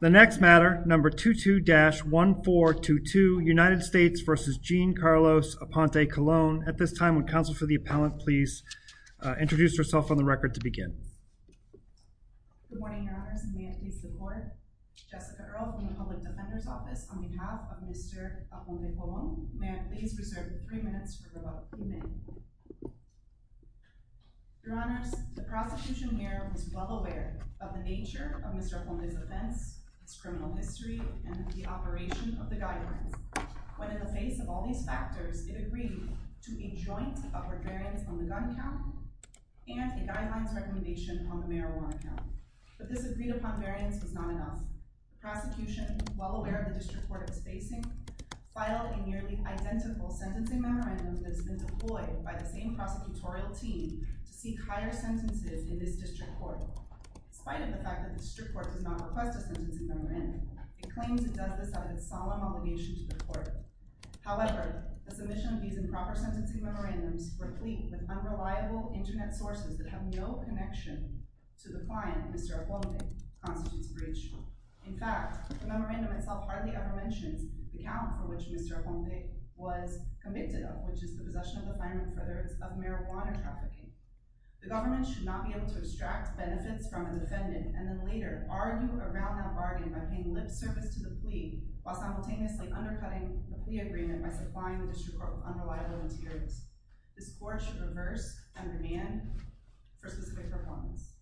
The next matter number 22-1422 United States v. Jean Carlos Aponte-Colon. At this time, would counsel for the appellant please introduce herself on the record to begin. Good morning, Your Honors, and may it please the court. Jessica Earle from the Public Defender's Office on behalf of Mr. Aponte-Colon. May it please be reserved for three minutes for rebuttal. Amen. Your Honors, the prosecution here was well aware of the nature of Mr. Aponte's offense, his criminal history, and the operation of the guidance. When in the face of all these factors, it agreed to a joint upward variance on the gun count and a guidelines recommendation on the marijuana count. But this agreed-upon variance was not enough. The prosecution, while aware of the disreport it was facing, filed a nearly identical sentencing memorandum that has been employed by the same prosecutorial team to seek higher sentences in this district court. Despite the fact that the district court does not request a sentencing memorandum, it claims it does this out of its solemn obligation to the court. However, a submission of these improper sentencing memorandums, replete with unreliable internet sources that have no connection to the client, Mr. Aponte, constitutes breach. In fact, the memorandum itself hardly ever mentions the count for which Mr. Aponte was convicted of, which is the possession of a firearm for the purpose of marijuana trafficking. The government should not be able to extract benefits from a defendant and then later argue around that bargain by paying lip service to the plea, while simultaneously undercutting the plea agreement by supplying the district court with unreliable materials. This court should reverse and remand for specific proponents.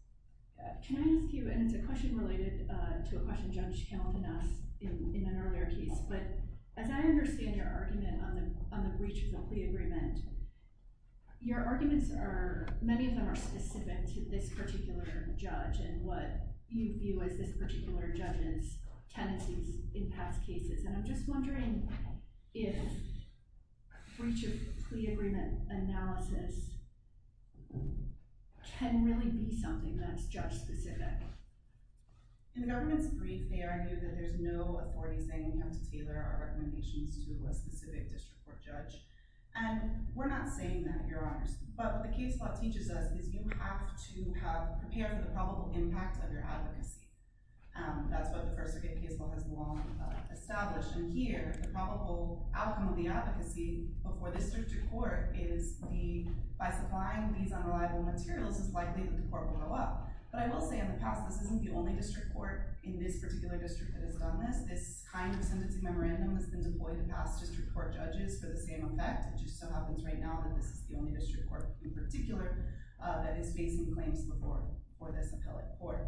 Can I ask you, and it's a question related to a question Judge Hamilton asked in an earlier case, but as I understand your argument on the breach of the plea agreement, your arguments are, many of them are specific to this particular judge and what you view as this particular judge's tendencies in past cases, and I'm just wondering if breach of plea agreement analysis can really be something that's judge-specific. In the government's brief, they argue that there's no authority saying we have to tailor our recommendations to a specific district court judge, and we're not saying that, Your Honors, but what the case law teaches us is you have to have prepared for the probable impact of your advocacy. That's what the First Circuit case law has long established, and here, the probable outcome of the advocacy before the district court is the, by supplying these unreliable materials, it's likely that the court will go up. But I will say, in the past, this isn't the only district court in this particular district that has done this. This kind of sentencing memorandum has been deployed to past district court judges for the same effect. It just so happens right now that this is the only district court in particular that is facing claims before this appellate court.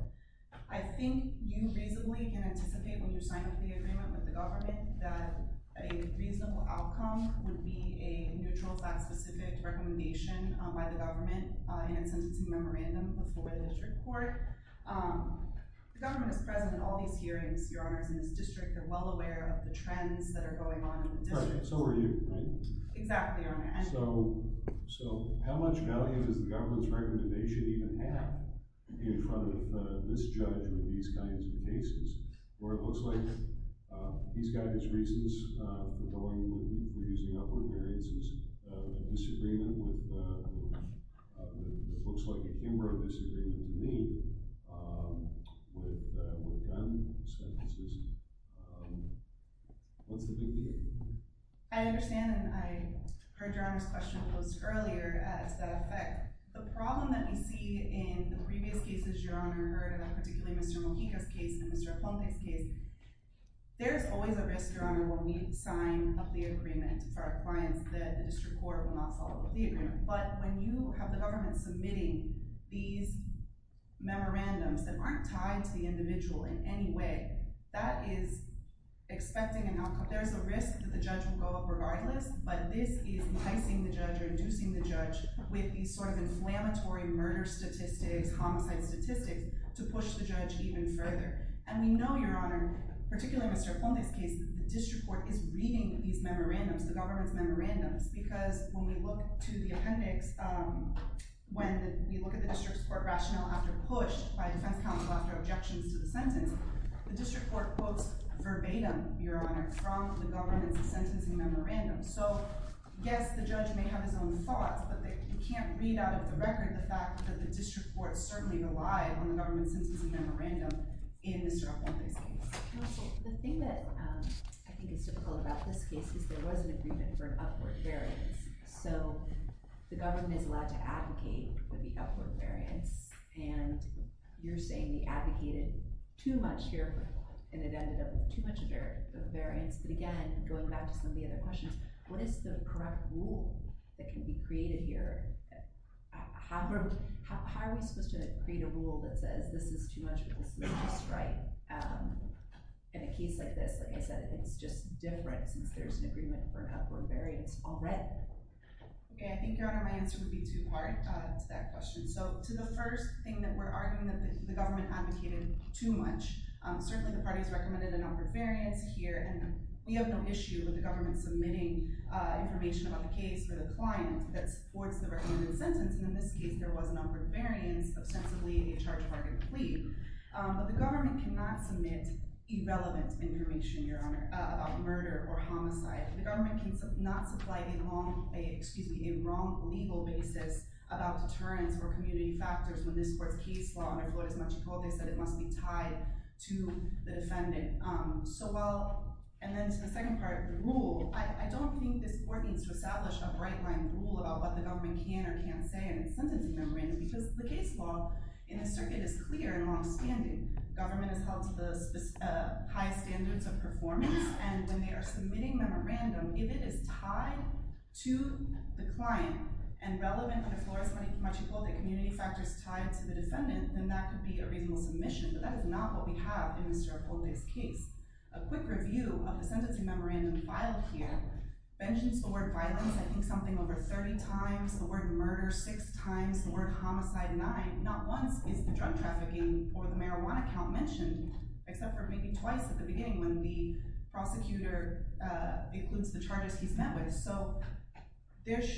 I think you reasonably can anticipate when you're signing the agreement with the government that a reasonable outcome would be a neutral, flat-specific recommendation by the government in a sentencing memorandum before the district court. The government is present in all these hearings, Your Honors, in this district. They're well aware of the trends that are going on in the district. So are you, right? Exactly, Your Honor. So how much value does the government's recommendation even have in front of this judge with these kinds of cases? Laura, it looks like he's got his reasons for using upward variances. A disagreement with, it looks like a Kimbrough disagreement with me with gun sentences. What's the big deal? I understand, and I heard Your Honor's question posed earlier as that effect. The problem that we see in the previous cases Your Honor heard, and particularly Mr. Mujica's case and Mr. Aponte's case, there's always a risk, Your Honor, when we sign a plea agreement for our clients that the district court will not follow up with the agreement. But when you have the government submitting these memorandums that aren't tied to the individual in any way, that is expecting an outcome. There's a risk that the judge will go up regardless, but this is enticing the judge or inducing the judge with these sort of inflammatory murder statistics, homicide statistics to push the judge even further. And we know, Your Honor, particularly Mr. Aponte's case, the district court is reading these memorandums, the government's memorandums, because when we look to the appendix, when we look at the district's court rationale after push by defense counsel after objections to the sentence, the district court quotes verbatim, Your Honor, from the government's sentencing memorandum. So, yes, the judge may have his own thoughts, but you can't read out of the record the fact that the district court certainly relied on the government's sentencing memorandum in Mr. Aponte's case. Counsel, the thing that I think is difficult about this case is there was an agreement for an upward variance. So the government is allowed to advocate for the upward variance, and you're saying they advocated too much here, and it ended up with too much variance. But again, going back to some of the other questions, what is the correct rule that can be created here? How are we supposed to create a rule that says this is too much or this is just right? In a case like this, like I said, it's just different since there's an agreement for an upward variance already. Okay, I think, Your Honor, my answer would be two part to that question. So to the first thing that we're arguing that the government advocated too much, certainly the parties recommended an upward variance here, and we have no issue with the government submitting information about the case for the client that supports the recommended sentence. And in this case, there was an upward variance, ostensibly a charge-target plea. But the government cannot submit irrelevant information, Your Honor, about murder or homicide. The government cannot supply a wrong legal basis about deterrence or community factors when this court's case law, under Flores-Machicote, said it must be tied to the defendant. And then to the second part, the rule. I don't think this court needs to establish a bright-line rule about what the government can or can't say in its sentencing memorandum because the case law in this circuit is clear and long-standing. Government has held to the highest standards of performance, and when they are submitting memorandum, if it is tied to the client and relevant to the Flores-Machicote community factors tied to the defendant, then that could be a reasonable submission, but that is not what we have in Mr. Apote's case. A quick review of the sentencing memorandum filed here mentions the word violence I think something over 30 times, the word murder six times, the word homicide nine. Not once is the drug trafficking or the marijuana count mentioned, except for maybe twice at the beginning when the prosecutor includes the charges he's met with. So this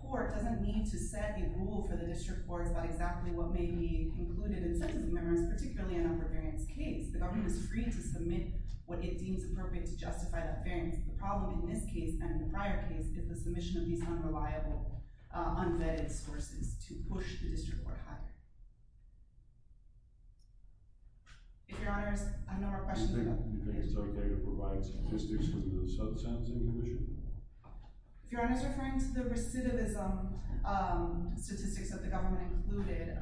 court doesn't need to set a rule for the district courts about exactly what may be included in the sentencing memorandum, particularly in an upper variance case. The government is free to submit what it deems appropriate to justify that variance. The problem in this case and in the prior case is the submission of these unreliable, unvetted sources to push the district court higher. If your honors, I have no more questions. Do you think it's okay to provide statistics from the sub-sentencing commission? If your honors are referring to the recidivism statistics that the government included,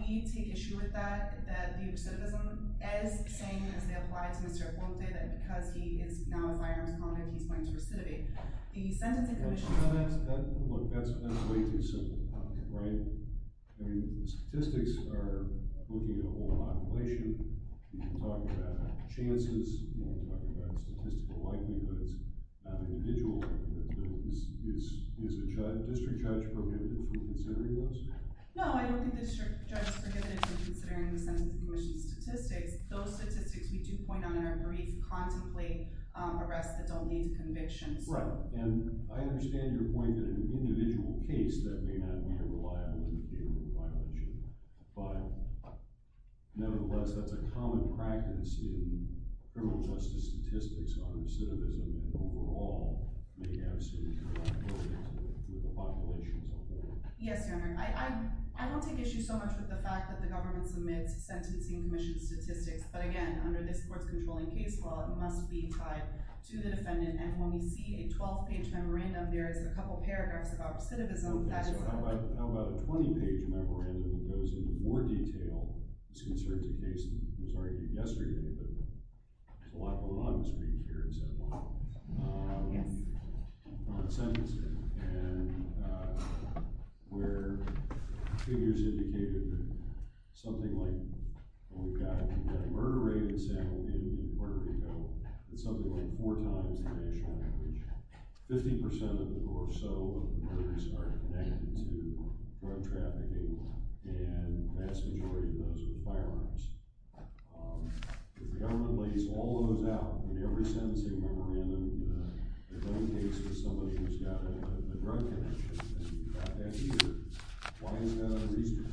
we take issue with that, that the recidivism is the same as they applied to Mr. Apote, that because he is now a firearms convict, he's going to recidivate. The sentencing commission— Look, that's way too simple, right? The statistics are looking at a whole population. We can talk about chances. We can talk about statistical likelihoods. Individually, is the district judge prohibited from considering those? No, I don't think the district judge is prohibited from considering the sentencing commission's statistics. Those statistics we do point on in our brief contemplate arrests that don't lead to convictions. Right, and I understand your point that in an individual case, that may not be a reliable way to deal with a violation, but nevertheless, that's a common practice in criminal justice statistics on recidivism, and overall may have significant likelihoods with the populations involved. Yes, your honor. I don't take issue so much with the fact that the government submits sentencing commission statistics, but again, under this court's controlling case law, it must be tied to the defendant, and when we see a 12-page memorandum, there is a couple paragraphs about recidivism— Okay, so how about a 20-page memorandum that goes into more detail? This concerns a case that was argued yesterday, but there's a lot going on in this brief here. Yes. ...on sentencing, and where figures indicated that something like— we've got a murder rate in San Joaquin, Puerto Rico, that's something like four times the national average. Fifty percent or so of the murders are connected to drug trafficking, and the vast majority of those were firearms. If the government lays all those out in every sentencing memorandum, the main case is somebody who's got a drug connection, and you've got that here, why isn't that on the receipt?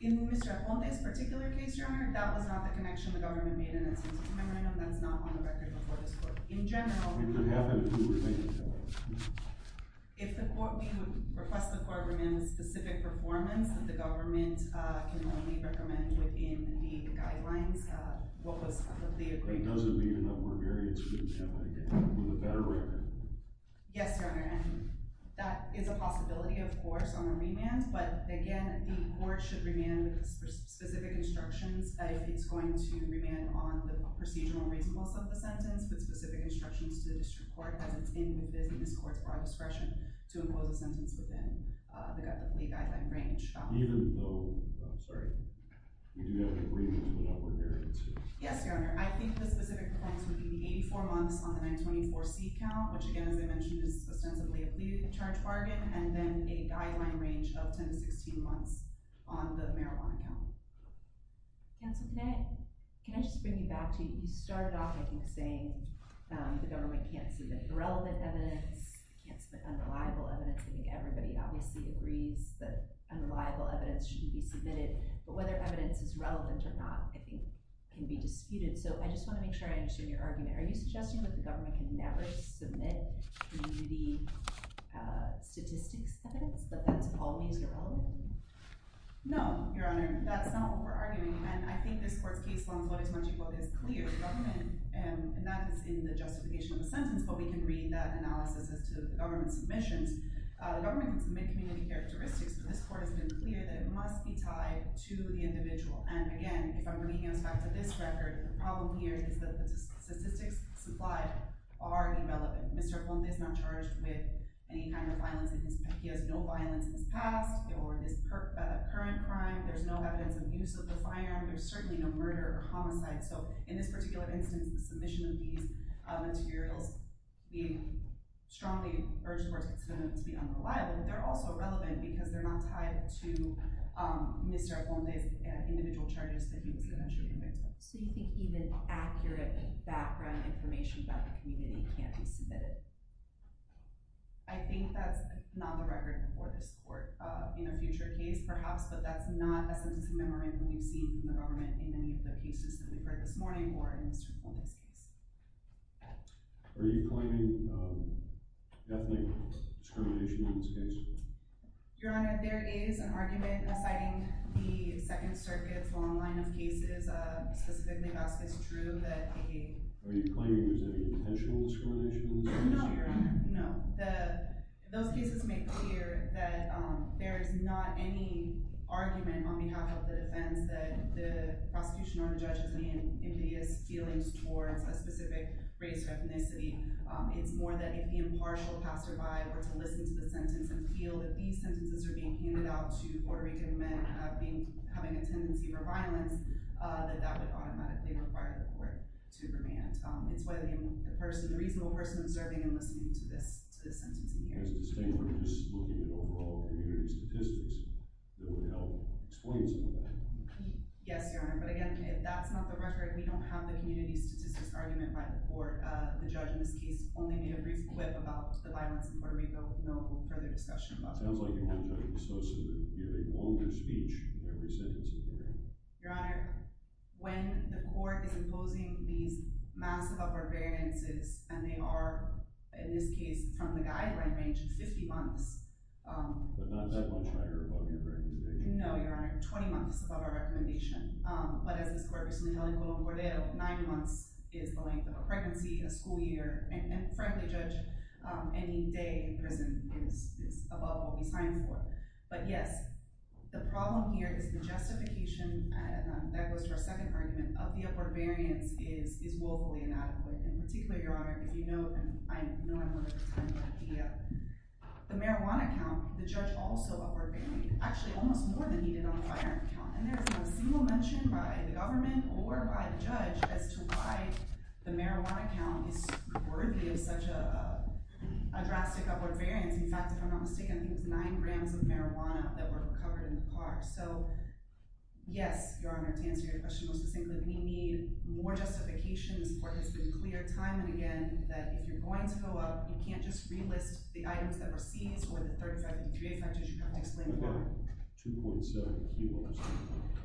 In Mr. Allende's particular case, your honor, that was not the connection the government made in the sentencing memorandum. That's not on the record before this court. In general— It could happen if it were made in general. If the court—we would request the court remain with specific performance, that the government can only recommend within the guidelines of the agreement. But does it mean that we're very interested in somebody with a better record? Yes, your honor. That is a possibility, of course, on a remand, but again, the court should remain with specific instructions if it's going to remain on the procedural reasonableness of the sentence with specific instructions to the district court as it's in the business court's broad discretion to impose a sentence within the guideline range. Even though—I'm sorry. We do have an agreement to an upward hearing, too. Yes, your honor. I think the specific performance would be 84 months on the 924C count, which again, as I mentioned, is ostensibly a plea to charge bargain, and then a guideline range of 10 to 16 months on the marijuana count. Counsel Knett, can I just bring you back to— you started off, I think, saying the government can't submit irrelevant evidence, can't submit unreliable evidence. I think everybody obviously agrees that unreliable evidence shouldn't be submitted, but whether evidence is relevant or not, I think, can be disputed. So I just want to make sure I understand your argument. Are you suggesting that the government can never submit to the statistics evidence, that that's always irrelevant? No, your honor. That's not what we're arguing, and I think this court's case law is what is much—what is clear. The government—and that is in the justification of the sentence, but we can read that analysis as to the government's submissions. The government can submit community characteristics, but this court has been clear that it must be tied to the individual. And again, if I'm bringing this back to this record, the problem here is that the statistics supplied are irrelevant. Mr. Aponte is not charged with any kind of violence. He has no violence in his past or in his current crime. There's no evidence of use of the firearm. There's certainly no murder or homicide. So in this particular instance, the submission of these materials, we strongly urge the court to consider them to be unreliable, but they're also irrelevant because they're not tied to Mr. Aponte's individual charges that he was eventually convicted of. So you think even accurate background information about the community can't be submitted? I think that's not the record for this court in a future case, perhaps, but that's not a sentencing memorandum we've seen from the government in any of the cases that we've heard this morning or in Mr. Aponte's case. Are you claiming ethnic discrimination in this case? Your Honor, there is an argument citing the Second Circuit's long line of cases, specifically Vasquez-Drew, that they— Are you claiming there's any potential discrimination in this case? No, Your Honor. No. Those cases make clear that there is not any argument on behalf of the defense that the prosecution or the judge has any impedious feelings towards a specific race or ethnicity. It's more that if the impartial passerby were to listen to the sentence and feel that these sentences are being handed out to Puerto Rican men having a tendency for violence, that that would automatically require the court to remand. It's whether the reasonable person observing and listening to this sentencing hearing. We're just looking at overall community statistics that would help explain some of that. Yes, Your Honor, but again, if that's not the record, we don't have the community statistics argument by the court. The judge in this case only made a brief quip about the violence in Puerto Rico. No further discussion about that. Sounds like you want to expose him to hearing longer speech in every sentencing hearing. Your Honor, when the court is imposing these massive upper variances, and they are, in this case, from the guideline range, 50 months. But not that much higher above your recommendation. No, Your Honor, 20 months above our recommendation. But as this court recently held in Colón Cordero, nine months is the length of a pregnancy, a school year, and frankly, Judge, any day in prison is above what we signed for. But yes, the problem here is the justification that goes to our second argument of the upward variance is woefully inadequate. In particular, Your Honor, if you know, I know I'm over time, but the marijuana count, the judge also upward varied. Actually, almost more than he did on the firearm count. And there's not a single mention by the government or by the judge as to why the marijuana count is worthy of such a drastic upward variance. In fact, if I'm not mistaken, it was nine grams of marijuana that were recovered in the car. So, yes, Your Honor, to answer your question most succinctly, we need more justification. This court has been clear time and again that if you're going to go up, you can't just relist the items that were seized or the 35-53 effect as you have explained before. 2.7 kilos.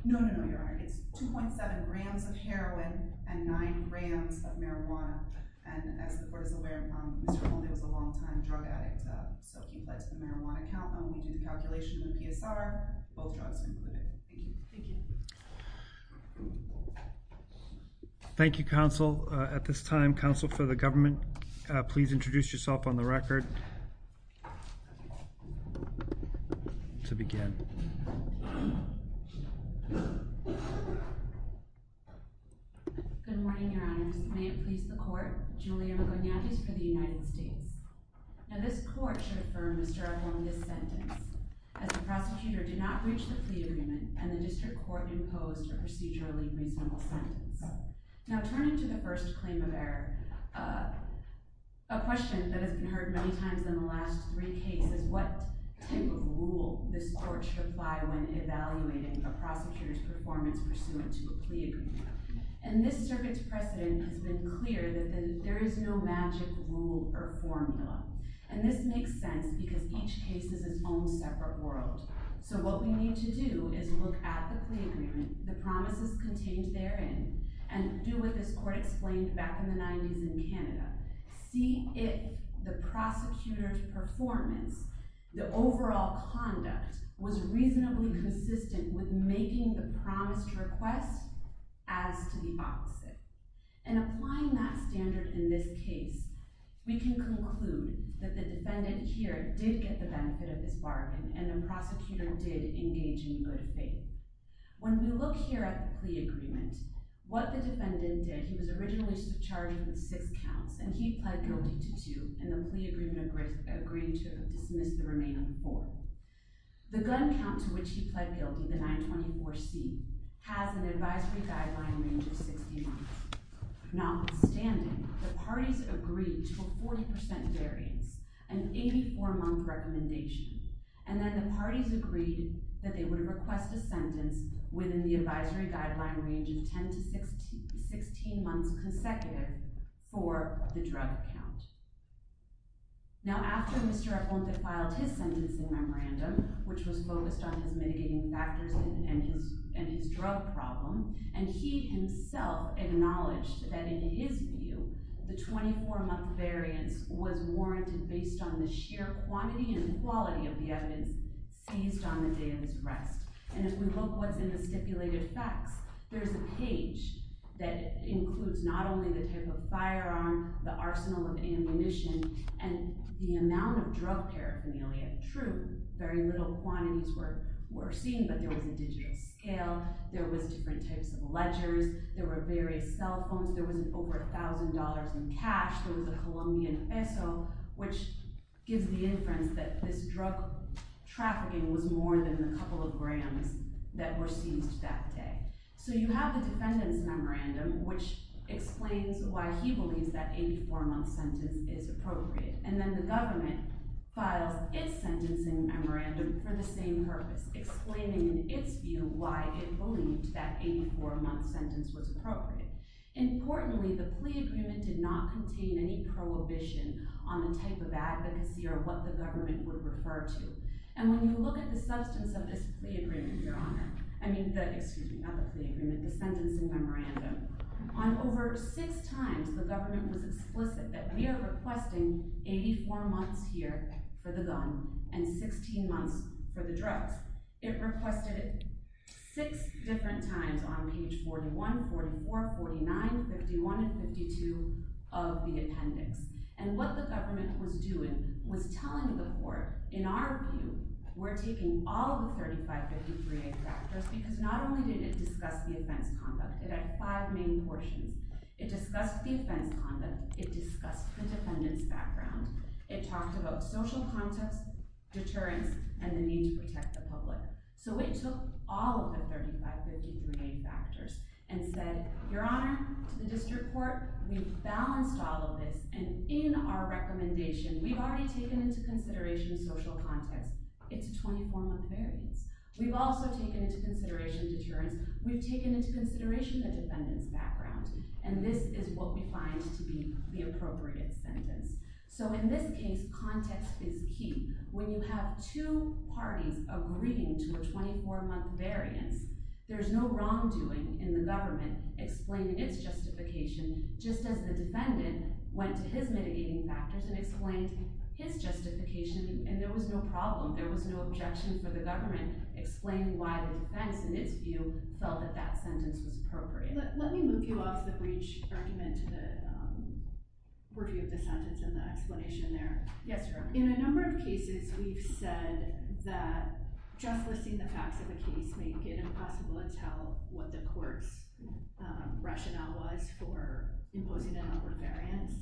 No, no, no, Your Honor. It's 2.7 grams of heroin and nine grams of marijuana. And as the court is aware, Mr. Colón was a long-time drug addict, so he pled to the marijuana count. We do the calculation in the PSR. Both drugs are included. Thank you. Thank you. Thank you, counsel. At this time, counsel for the government, please introduce yourself on the record to begin. Good morning, Your Honors. May it please the court, Julia McGonaghy for the United States. Now, this court should affirm Mr. Colón's sentence as the prosecutor did not breach the plea agreement and the district court imposed a procedurally reasonable sentence. Now, turning to the first claim of error, a question that has been heard many times in the last three cases, what type of rule this court should apply when evaluating a prosecutor's performance pursuant to a plea agreement? And this circuit's precedent has been clear that there is no magic rule or formula. And this makes sense because each case is its own separate world. So what we need to do is look at the plea agreement, the promises contained therein, and do what this court explained back in the 90s in Canada. See if the prosecutor's performance, the overall conduct, was reasonably consistent with making the promised request as to the opposite. And applying that standard in this case, we can conclude that the defendant here did get the benefit of this bargain and the prosecutor did engage in good faith. When we look here at the plea agreement, what the defendant did, he was originally charged with six counts, and he pled guilty to two, and the plea agreement agreed to dismiss the remaining four. The gun count to which he pled guilty, the 924C, has an advisory guideline range of 60 months. Notwithstanding, the parties agreed to a 40% variance, an 84-month recommendation, and then the parties agreed that they would request a sentence within the advisory guideline range of 10 to 16 months consecutive for the drug count. Now, after Mr. Epelman filed his sentencing memorandum, which was focused on his mitigating factors and his drug problem, and he himself acknowledged that, in his view, the 24-month variance was warranted based on the sheer quantity and quality of the evidence seized on the day of his arrest. And if we look what's in the stipulated facts, there's a page that includes not only the type of firearm, the arsenal of ammunition, and the amount of drug paraphernalia. Very little quantities were seen, but there was a digital scale. There was different types of ledgers. There were various cell phones. There was over $1,000 in cash. There was a Colombian peso, which gives the inference that this drug trafficking was more than the couple of grams that were seized that day. So you have the defendant's memorandum, which explains why he believes that 84-month sentence is appropriate. And then the government files its sentencing memorandum for the same purpose, explaining in its view why it believed that 84-month sentence was appropriate. Importantly, the plea agreement did not contain any prohibition on the type of advocacy or what the government would refer to. And when you look at the substance of this plea agreement, Your Honor, I mean, excuse me, not the plea agreement, the sentencing memorandum, on over six times, the government was explicit that we are requesting 84 months here for the gun and 16 months for the drugs. It requested it six different times on page 41, 44, 49, 51, and 52 of the appendix. And what the government was doing was telling the court, in our view, we're taking all the 3553A factors because not only did it discuss the offense conduct, it had five main portions. It discussed the offense conduct. It discussed the defendant's background. It talked about social context, deterrence, and the need to protect the public. So it took all of the 3553A factors and said, Your Honor, to the district court, we've balanced all of this, and in our recommendation, we've already taken into consideration social context. It's a 24-month variance. We've also taken into consideration deterrence. We've taken into consideration the defendant's background. And this is what we find to be the appropriate sentence. So in this case, context is key. When you have two parties agreeing to a 24-month variance, there's no wrongdoing in the government explaining its justification, just as the defendant went to his mitigating factors and explained his justification, explaining why the defense, in its view, felt that that sentence was appropriate. Let me move you off the breach argument to the review of the sentence and the explanation there. Yes, Your Honor. In a number of cases, we've said that just listing the facts of a case may make it impossible to tell what the court's rationale was for imposing an upward variance,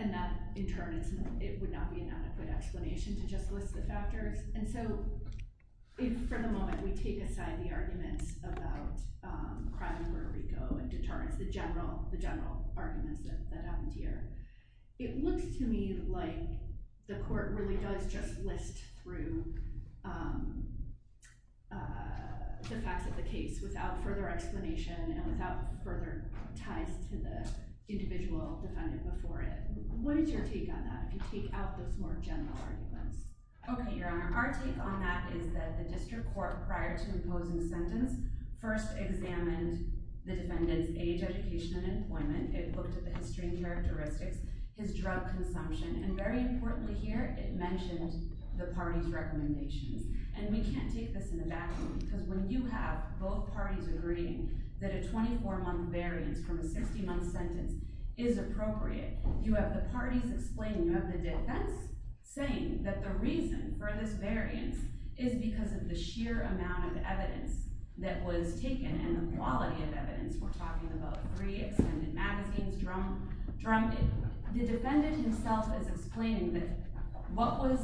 and that, in turn, it would not be an adequate explanation to just list the factors. And so if, for the moment, we take aside the arguments about crime in Puerto Rico and deterrence, the general arguments that happened here, it looks to me like the court really does just list through the facts of the case without further explanation and without further ties to the individual defendant before it. What is your take on that, if you take out those more general arguments? Okay, Your Honor. Our take on that is that the district court, prior to imposing the sentence, first examined the defendant's age, education, and employment. It looked at the history and characteristics, his drug consumption, and, very importantly here, it mentioned the party's recommendations. And we can't take this in the back room, because when you have both parties agreeing that a 24-month variance from a 60-month sentence is appropriate, you have the parties explaining, you have the defense saying that the reason for this variance is because of the sheer amount of evidence that was taken and the quality of evidence. We're talking about three extended magazines drummed in. The defendant himself is explaining that what was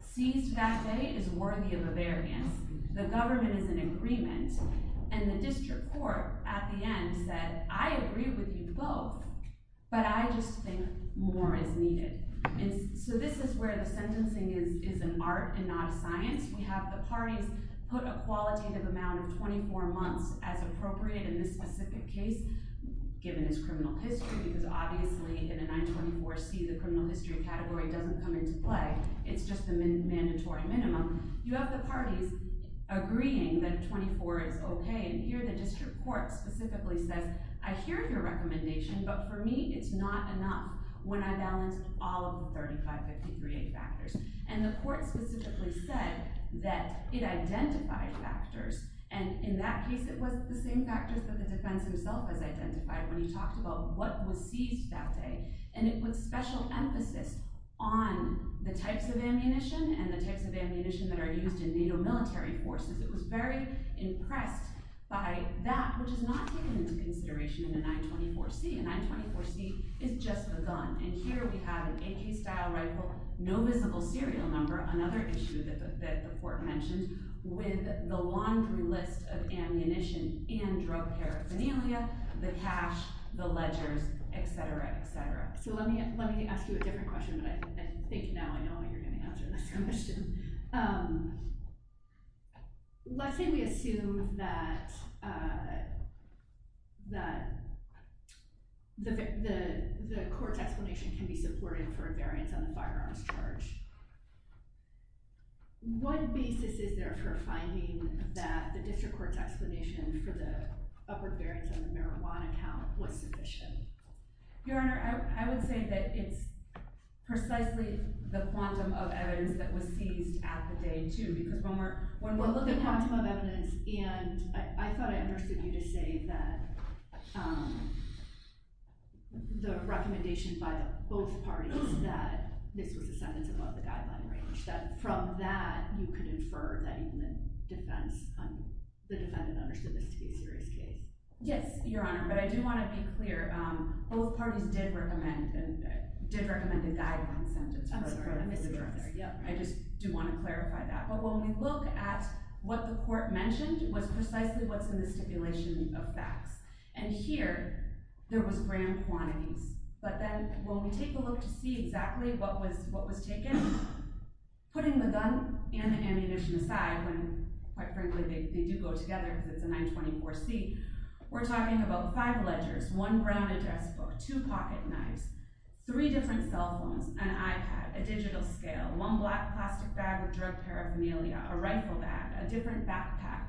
seized that day is worthy of a variance, the government is in agreement, and the district court, at the end, said, I agree with you both, but I just think more is needed. So this is where the sentencing is an art and not a science. We have the parties put a qualitative amount of 24 months as appropriate in this specific case, given his criminal history, because obviously in a 924C, the criminal history category doesn't come into play. It's just the mandatory minimum. You have the parties agreeing that a 24 is okay, and here the district court specifically says, I hear your recommendation, but for me it's not enough when I balance all of the 35-53-8 factors. And the court specifically said that it identified factors, and in that case it was the same factors that the defense himself has identified when he talked about what was seized that day, and it puts special emphasis on the types of ammunition and the types of ammunition that are used in NATO military forces. It was very impressed by that, which is not taken into consideration in a 924C. A 924C is just a gun, and here we have an AK-style rifle, no visible serial number, another issue that the court mentioned, with the laundry list of ammunition and drug paraphernalia, the cash, the ledgers, et cetera, et cetera. So let me ask you a different question. I think now I know what you're going to answer this question. Let's say we assume that the court's explanation can be supported for a variance on the firearms charge. What basis is there for finding that the district court's explanation for the upper variance on the marijuana count was sufficient? Your Honor, I would say that it's precisely the quantum of evidence that was seized at the day, too, because when we're looking at the quantum of evidence, and I thought I understood you to say that the recommendation by both parties that this was a sentence above the guideline range, that from that you could infer that the defendant understood this to be a serious case. Yes, Your Honor, but I do want to be clear. Both parties did recommend a guideline sentence. I just do want to clarify that. But when we look at what the court mentioned was precisely what's in the stipulation of facts. And here, there was grand quantities. But then when we take a look to see exactly what was taken, putting the gun and the ammunition aside, when quite frankly they do go together because it's a 924C, we're talking about five ledgers, one brown address book, two pocket knives, three different cell phones, an iPad, a digital scale, one black plastic bag with drug paraphernalia, a rifle bag, a different backpack.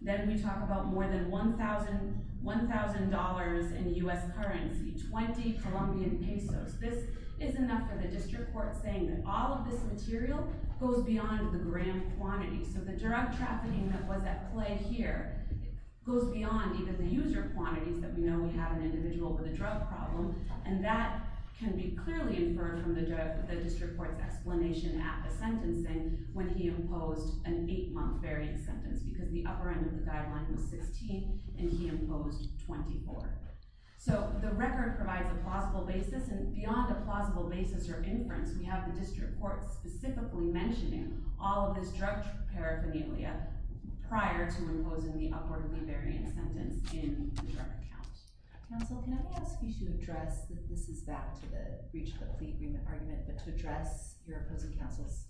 Then we talk about more than $1,000 in U.S. currency, 20 Colombian pesos. This is enough for the district court saying that all of this material goes beyond the grand quantity. So the drug trafficking that was at play here goes beyond even the user quantities that we know we have an individual with a drug problem. And that can be clearly inferred from the district court's explanation at the sentencing when he imposed an eight-month variant sentence because the upper end of the guideline was 16 and he imposed 24. So the record provides a plausible basis, and beyond a plausible basis or inference, we have the district court specifically mentioning all of this drug paraphernalia prior to imposing the upwardly variant sentence in the drug account. Counsel, can I ask you to address—this is back to the breach of the plea agreement argument— but to address your opposing counsel's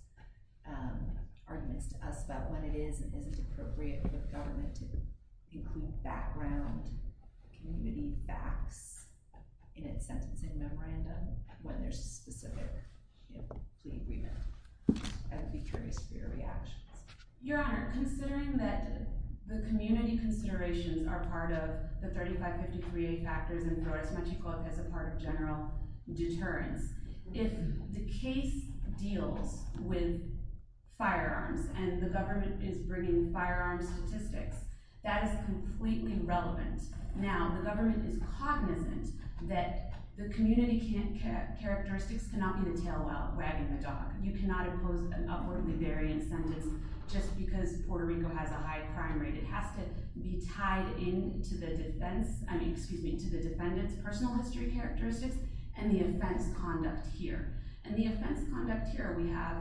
arguments to us about when it is and isn't appropriate for the government to include background community facts in its sentencing memorandum when there's a specific plea agreement. I would be curious for your reactions. Your Honor, considering that the community considerations are part of the 3553A factors and Brotus-Machico as a part of general deterrence, if the case deals with firearms and the government is bringing firearms statistics, that is completely relevant. Now, the government is cognizant that the community characteristics cannot be the tail while wagging the dog. You cannot impose an upwardly variant sentence just because Puerto Rico has a high crime rate. It has to be tied into the defendant's personal history characteristics and the offense conduct here. We have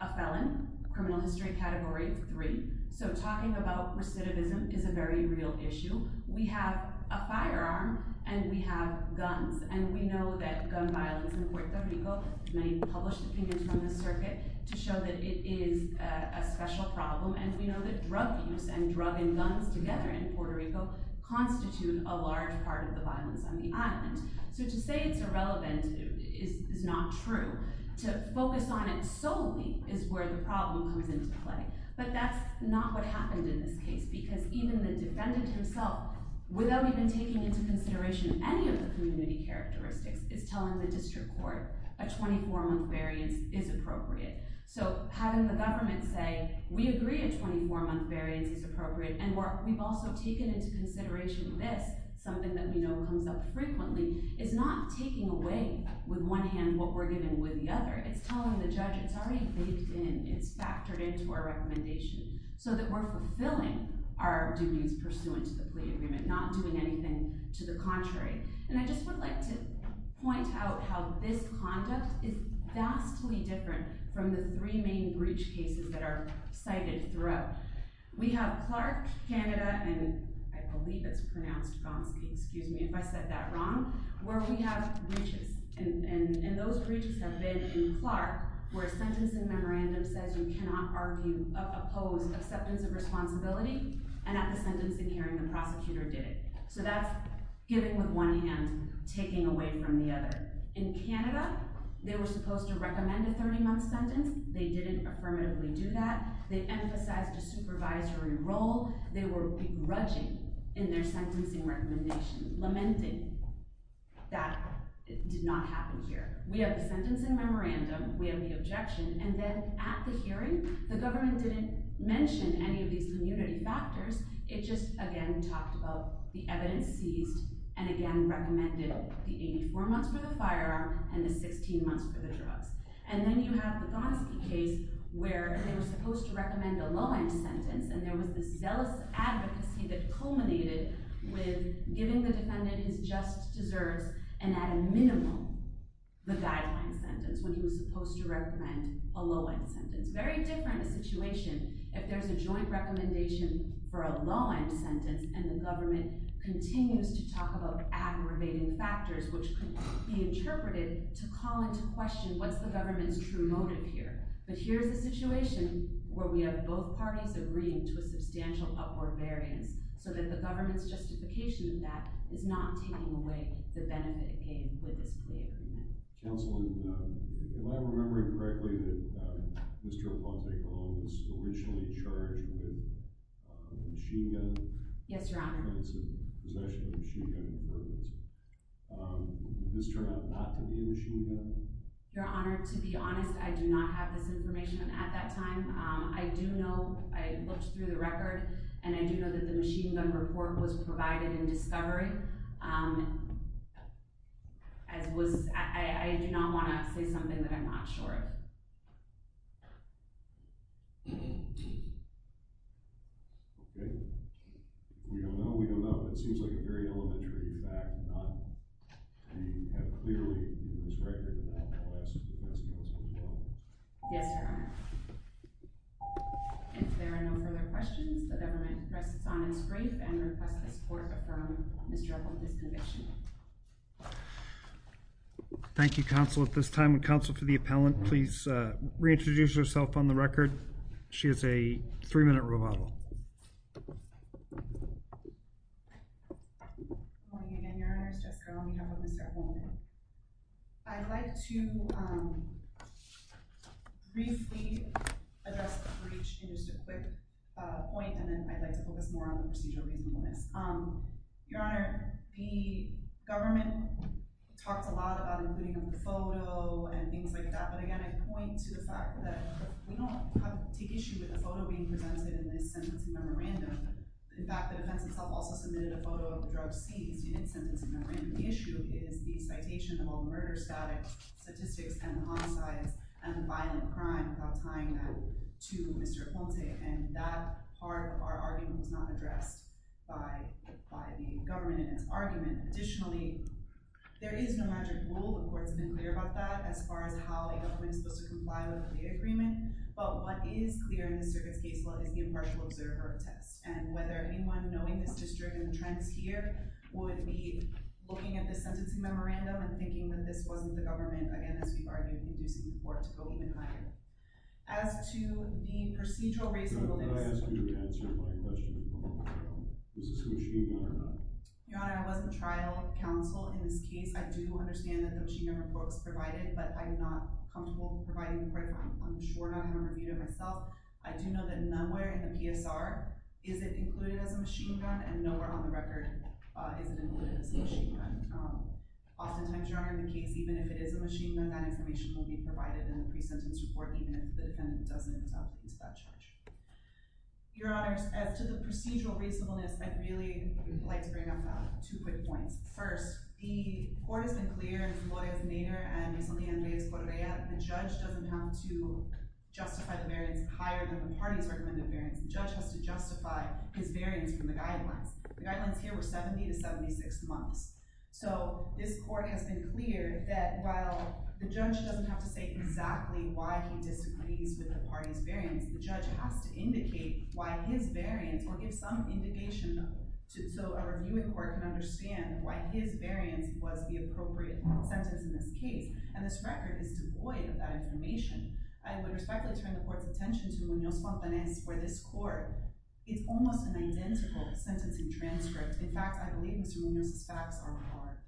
a felon, criminal history category 3, so talking about recidivism is a very real issue. We have a firearm and we have guns and we know that gun violence in Puerto Rico— many published opinions from the circuit to show that it is a special problem and we know that drug use and drug and guns together in Puerto Rico constitute a large part of the violence on the island. So to say it's irrelevant is not true. To focus on it solely is where the problem comes into play. But that's not what happened in this case because even the defendant himself, without even taking into consideration any of the community characteristics, is telling the district court a 24-month variance is appropriate. So having the government say, we agree a 24-month variance is appropriate and we've also taken into consideration this, something that we know comes up frequently, is not taking away with one hand what we're giving with the other. It's telling the judge it's already baked in, it's factored into our recommendation so that we're fulfilling our duties pursuant to the plea agreement, not doing anything to the contrary. And I just would like to point out how this conduct is vastly different from the three main breach cases that are cited throughout. We have Clark, Canada, and I believe it's pronounced Gomsky, excuse me if I said that wrong, where we have breaches and those breaches have been in Clark where a sentence in memorandum says you cannot oppose acceptance of responsibility and at the sentencing hearing the prosecutor did it. So that's giving with one hand, taking away from the other. In Canada, they were supposed to recommend a 30-month sentence. They didn't affirmatively do that. They emphasized a supervisory role. They were begrudging in their sentencing recommendation, lamenting that it did not happen here. We have the sentence in memorandum. We have the objection. And then at the hearing, the government didn't mention any of these community factors. It just again talked about the evidence seized and again recommended the 84 months for the firearm and the 16 months for the drugs. And then you have the Gomsky case where they were supposed to recommend a low-end sentence and there was this zealous advocacy that culminated with giving the defendant his just deserves and at a minimum the guideline sentence when he was supposed to recommend a low-end sentence. Very different a situation if there's a joint recommendation for a low-end sentence and the government continues to talk about aggravating factors which could be interpreted to call into question what's the government's true motive here. But here's a situation where we have both parties agreeing to a substantial upward variance so that the government's justification of that is not taking away the benefit gained with this plea agreement. Counsel, if I'm remembering correctly, Mr. Aponte Gomes was originally charged with machine gun Yes, Your Honor. possession of machine gun permits. Did this turn out not to be a machine gun? Your Honor, to be honest, I do not have this information at that time. I do know, I looked through the record and I do know that the machine gun report was provided in discovery. I do not want to say something that I'm not sure of. Okay. We don't know, we don't know. It seems like a very elementary fact. We have clearly in this record, and I'll ask the defense counsel as well. Yes, Your Honor. If there are no further questions, the government rests on its grief and requests that this court affirm Mr. Aponte's conviction. Thank you, counsel. At this time, counsel for the appellant, please reintroduce herself on the record. She is a three-minute rebuttal. Good morning again, Your Honor. It's Jessica, on behalf of Mr. Aponte. I'd like to briefly address the breach in just a quick point and then I'd like to focus more on the procedural reasonableness. Your Honor, the government talked a lot about including a photo and things like that. But again, I point to the fact that we don't take issue with the photo being presented in this sentencing memorandum. In fact, the defense itself also submitted a photo of the drug seized in its sentencing memorandum. The issue is the citation of all murder-static statistics and homicides and violent crime without tying that to Mr. Aponte. And that part of our argument was not addressed by the government in its argument. Additionally, there is no magic rule. The court has been clear about that as far as how a government is supposed to comply with the agreement. But what is clear in the circuit's case law is the impartial observer test. And whether anyone knowing this district and the trends here would be looking at this sentencing memorandum and thinking that this wasn't the government, again, as we've argued, inducing the court to go even higher. As to the procedural reasonableness... Your Honor, did I ask you to answer my question at the moment? Is this a machine gun or not? Your Honor, I was the trial counsel in this case. I do understand that the machine gun report was provided, but I'm not comfortable providing the report. I'm sure not going to review it myself. I do know that nowhere in the PSR is it included as a machine gun, and nowhere on the record is it included as a machine gun. Oftentimes, Your Honor, in the case, even if it is a machine gun, that information will be provided in the pre-sentence report, even if the defendant doesn't use that charge. Your Honor, as to the procedural reasonableness, I'd really like to bring up two quick points. First, the court has been clear in Flores v. Nader and recently in Reyes v. Correa, the judge doesn't have to justify the variance higher than the party's recommended variance. The judge has to justify his variance from the guidelines. The guidelines here were 70 to 76 months. So this court has been clear that while the judge doesn't have to say exactly why he disagrees with the party's variance, the judge has to indicate why his variance, or give some indication so a reviewing court can understand why his variance was the appropriate sentence in this case, and this record is devoid of that information. I would respectfully turn the court's attention to Munoz-Fontanez for this court. It's almost an identical sentencing transcript. In fact, I believe Mr. Munoz's facts are more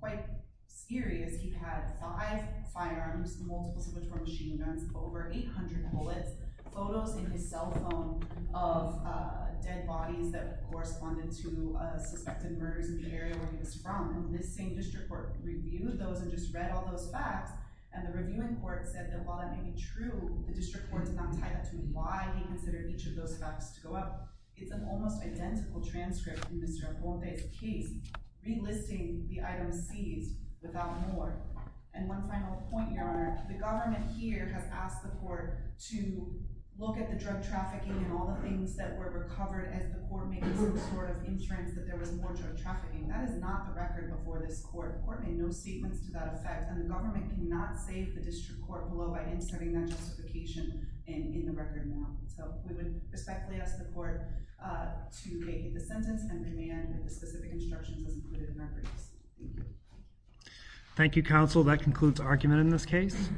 quite serious. He had five firearms, multiples of which were machine guns, over 800 bullets, photos in his cell phone of dead bodies that corresponded to suspected murders in the area where he was from. This same district court reviewed those and just read all those facts, and the reviewing court said that while that may be true, the district court did not tie that to why he considered each of those facts to go up. It's an almost identical transcript in Mr. Aponte's case, relisting the items seized without more. And one final point, Your Honor. The government here has asked the court to look at the drug trafficking and all the things that were recovered as the court made some sort of inference that there was more drug trafficking. That is not the record before this court. The court made no statements to that effect, and the government cannot save the district court below by inserting that justification in the record now. So we would respectfully ask the court to make the sentence and demand that the specific instructions are included in our briefs. Thank you. Thank you, counsel. That concludes argument in this case.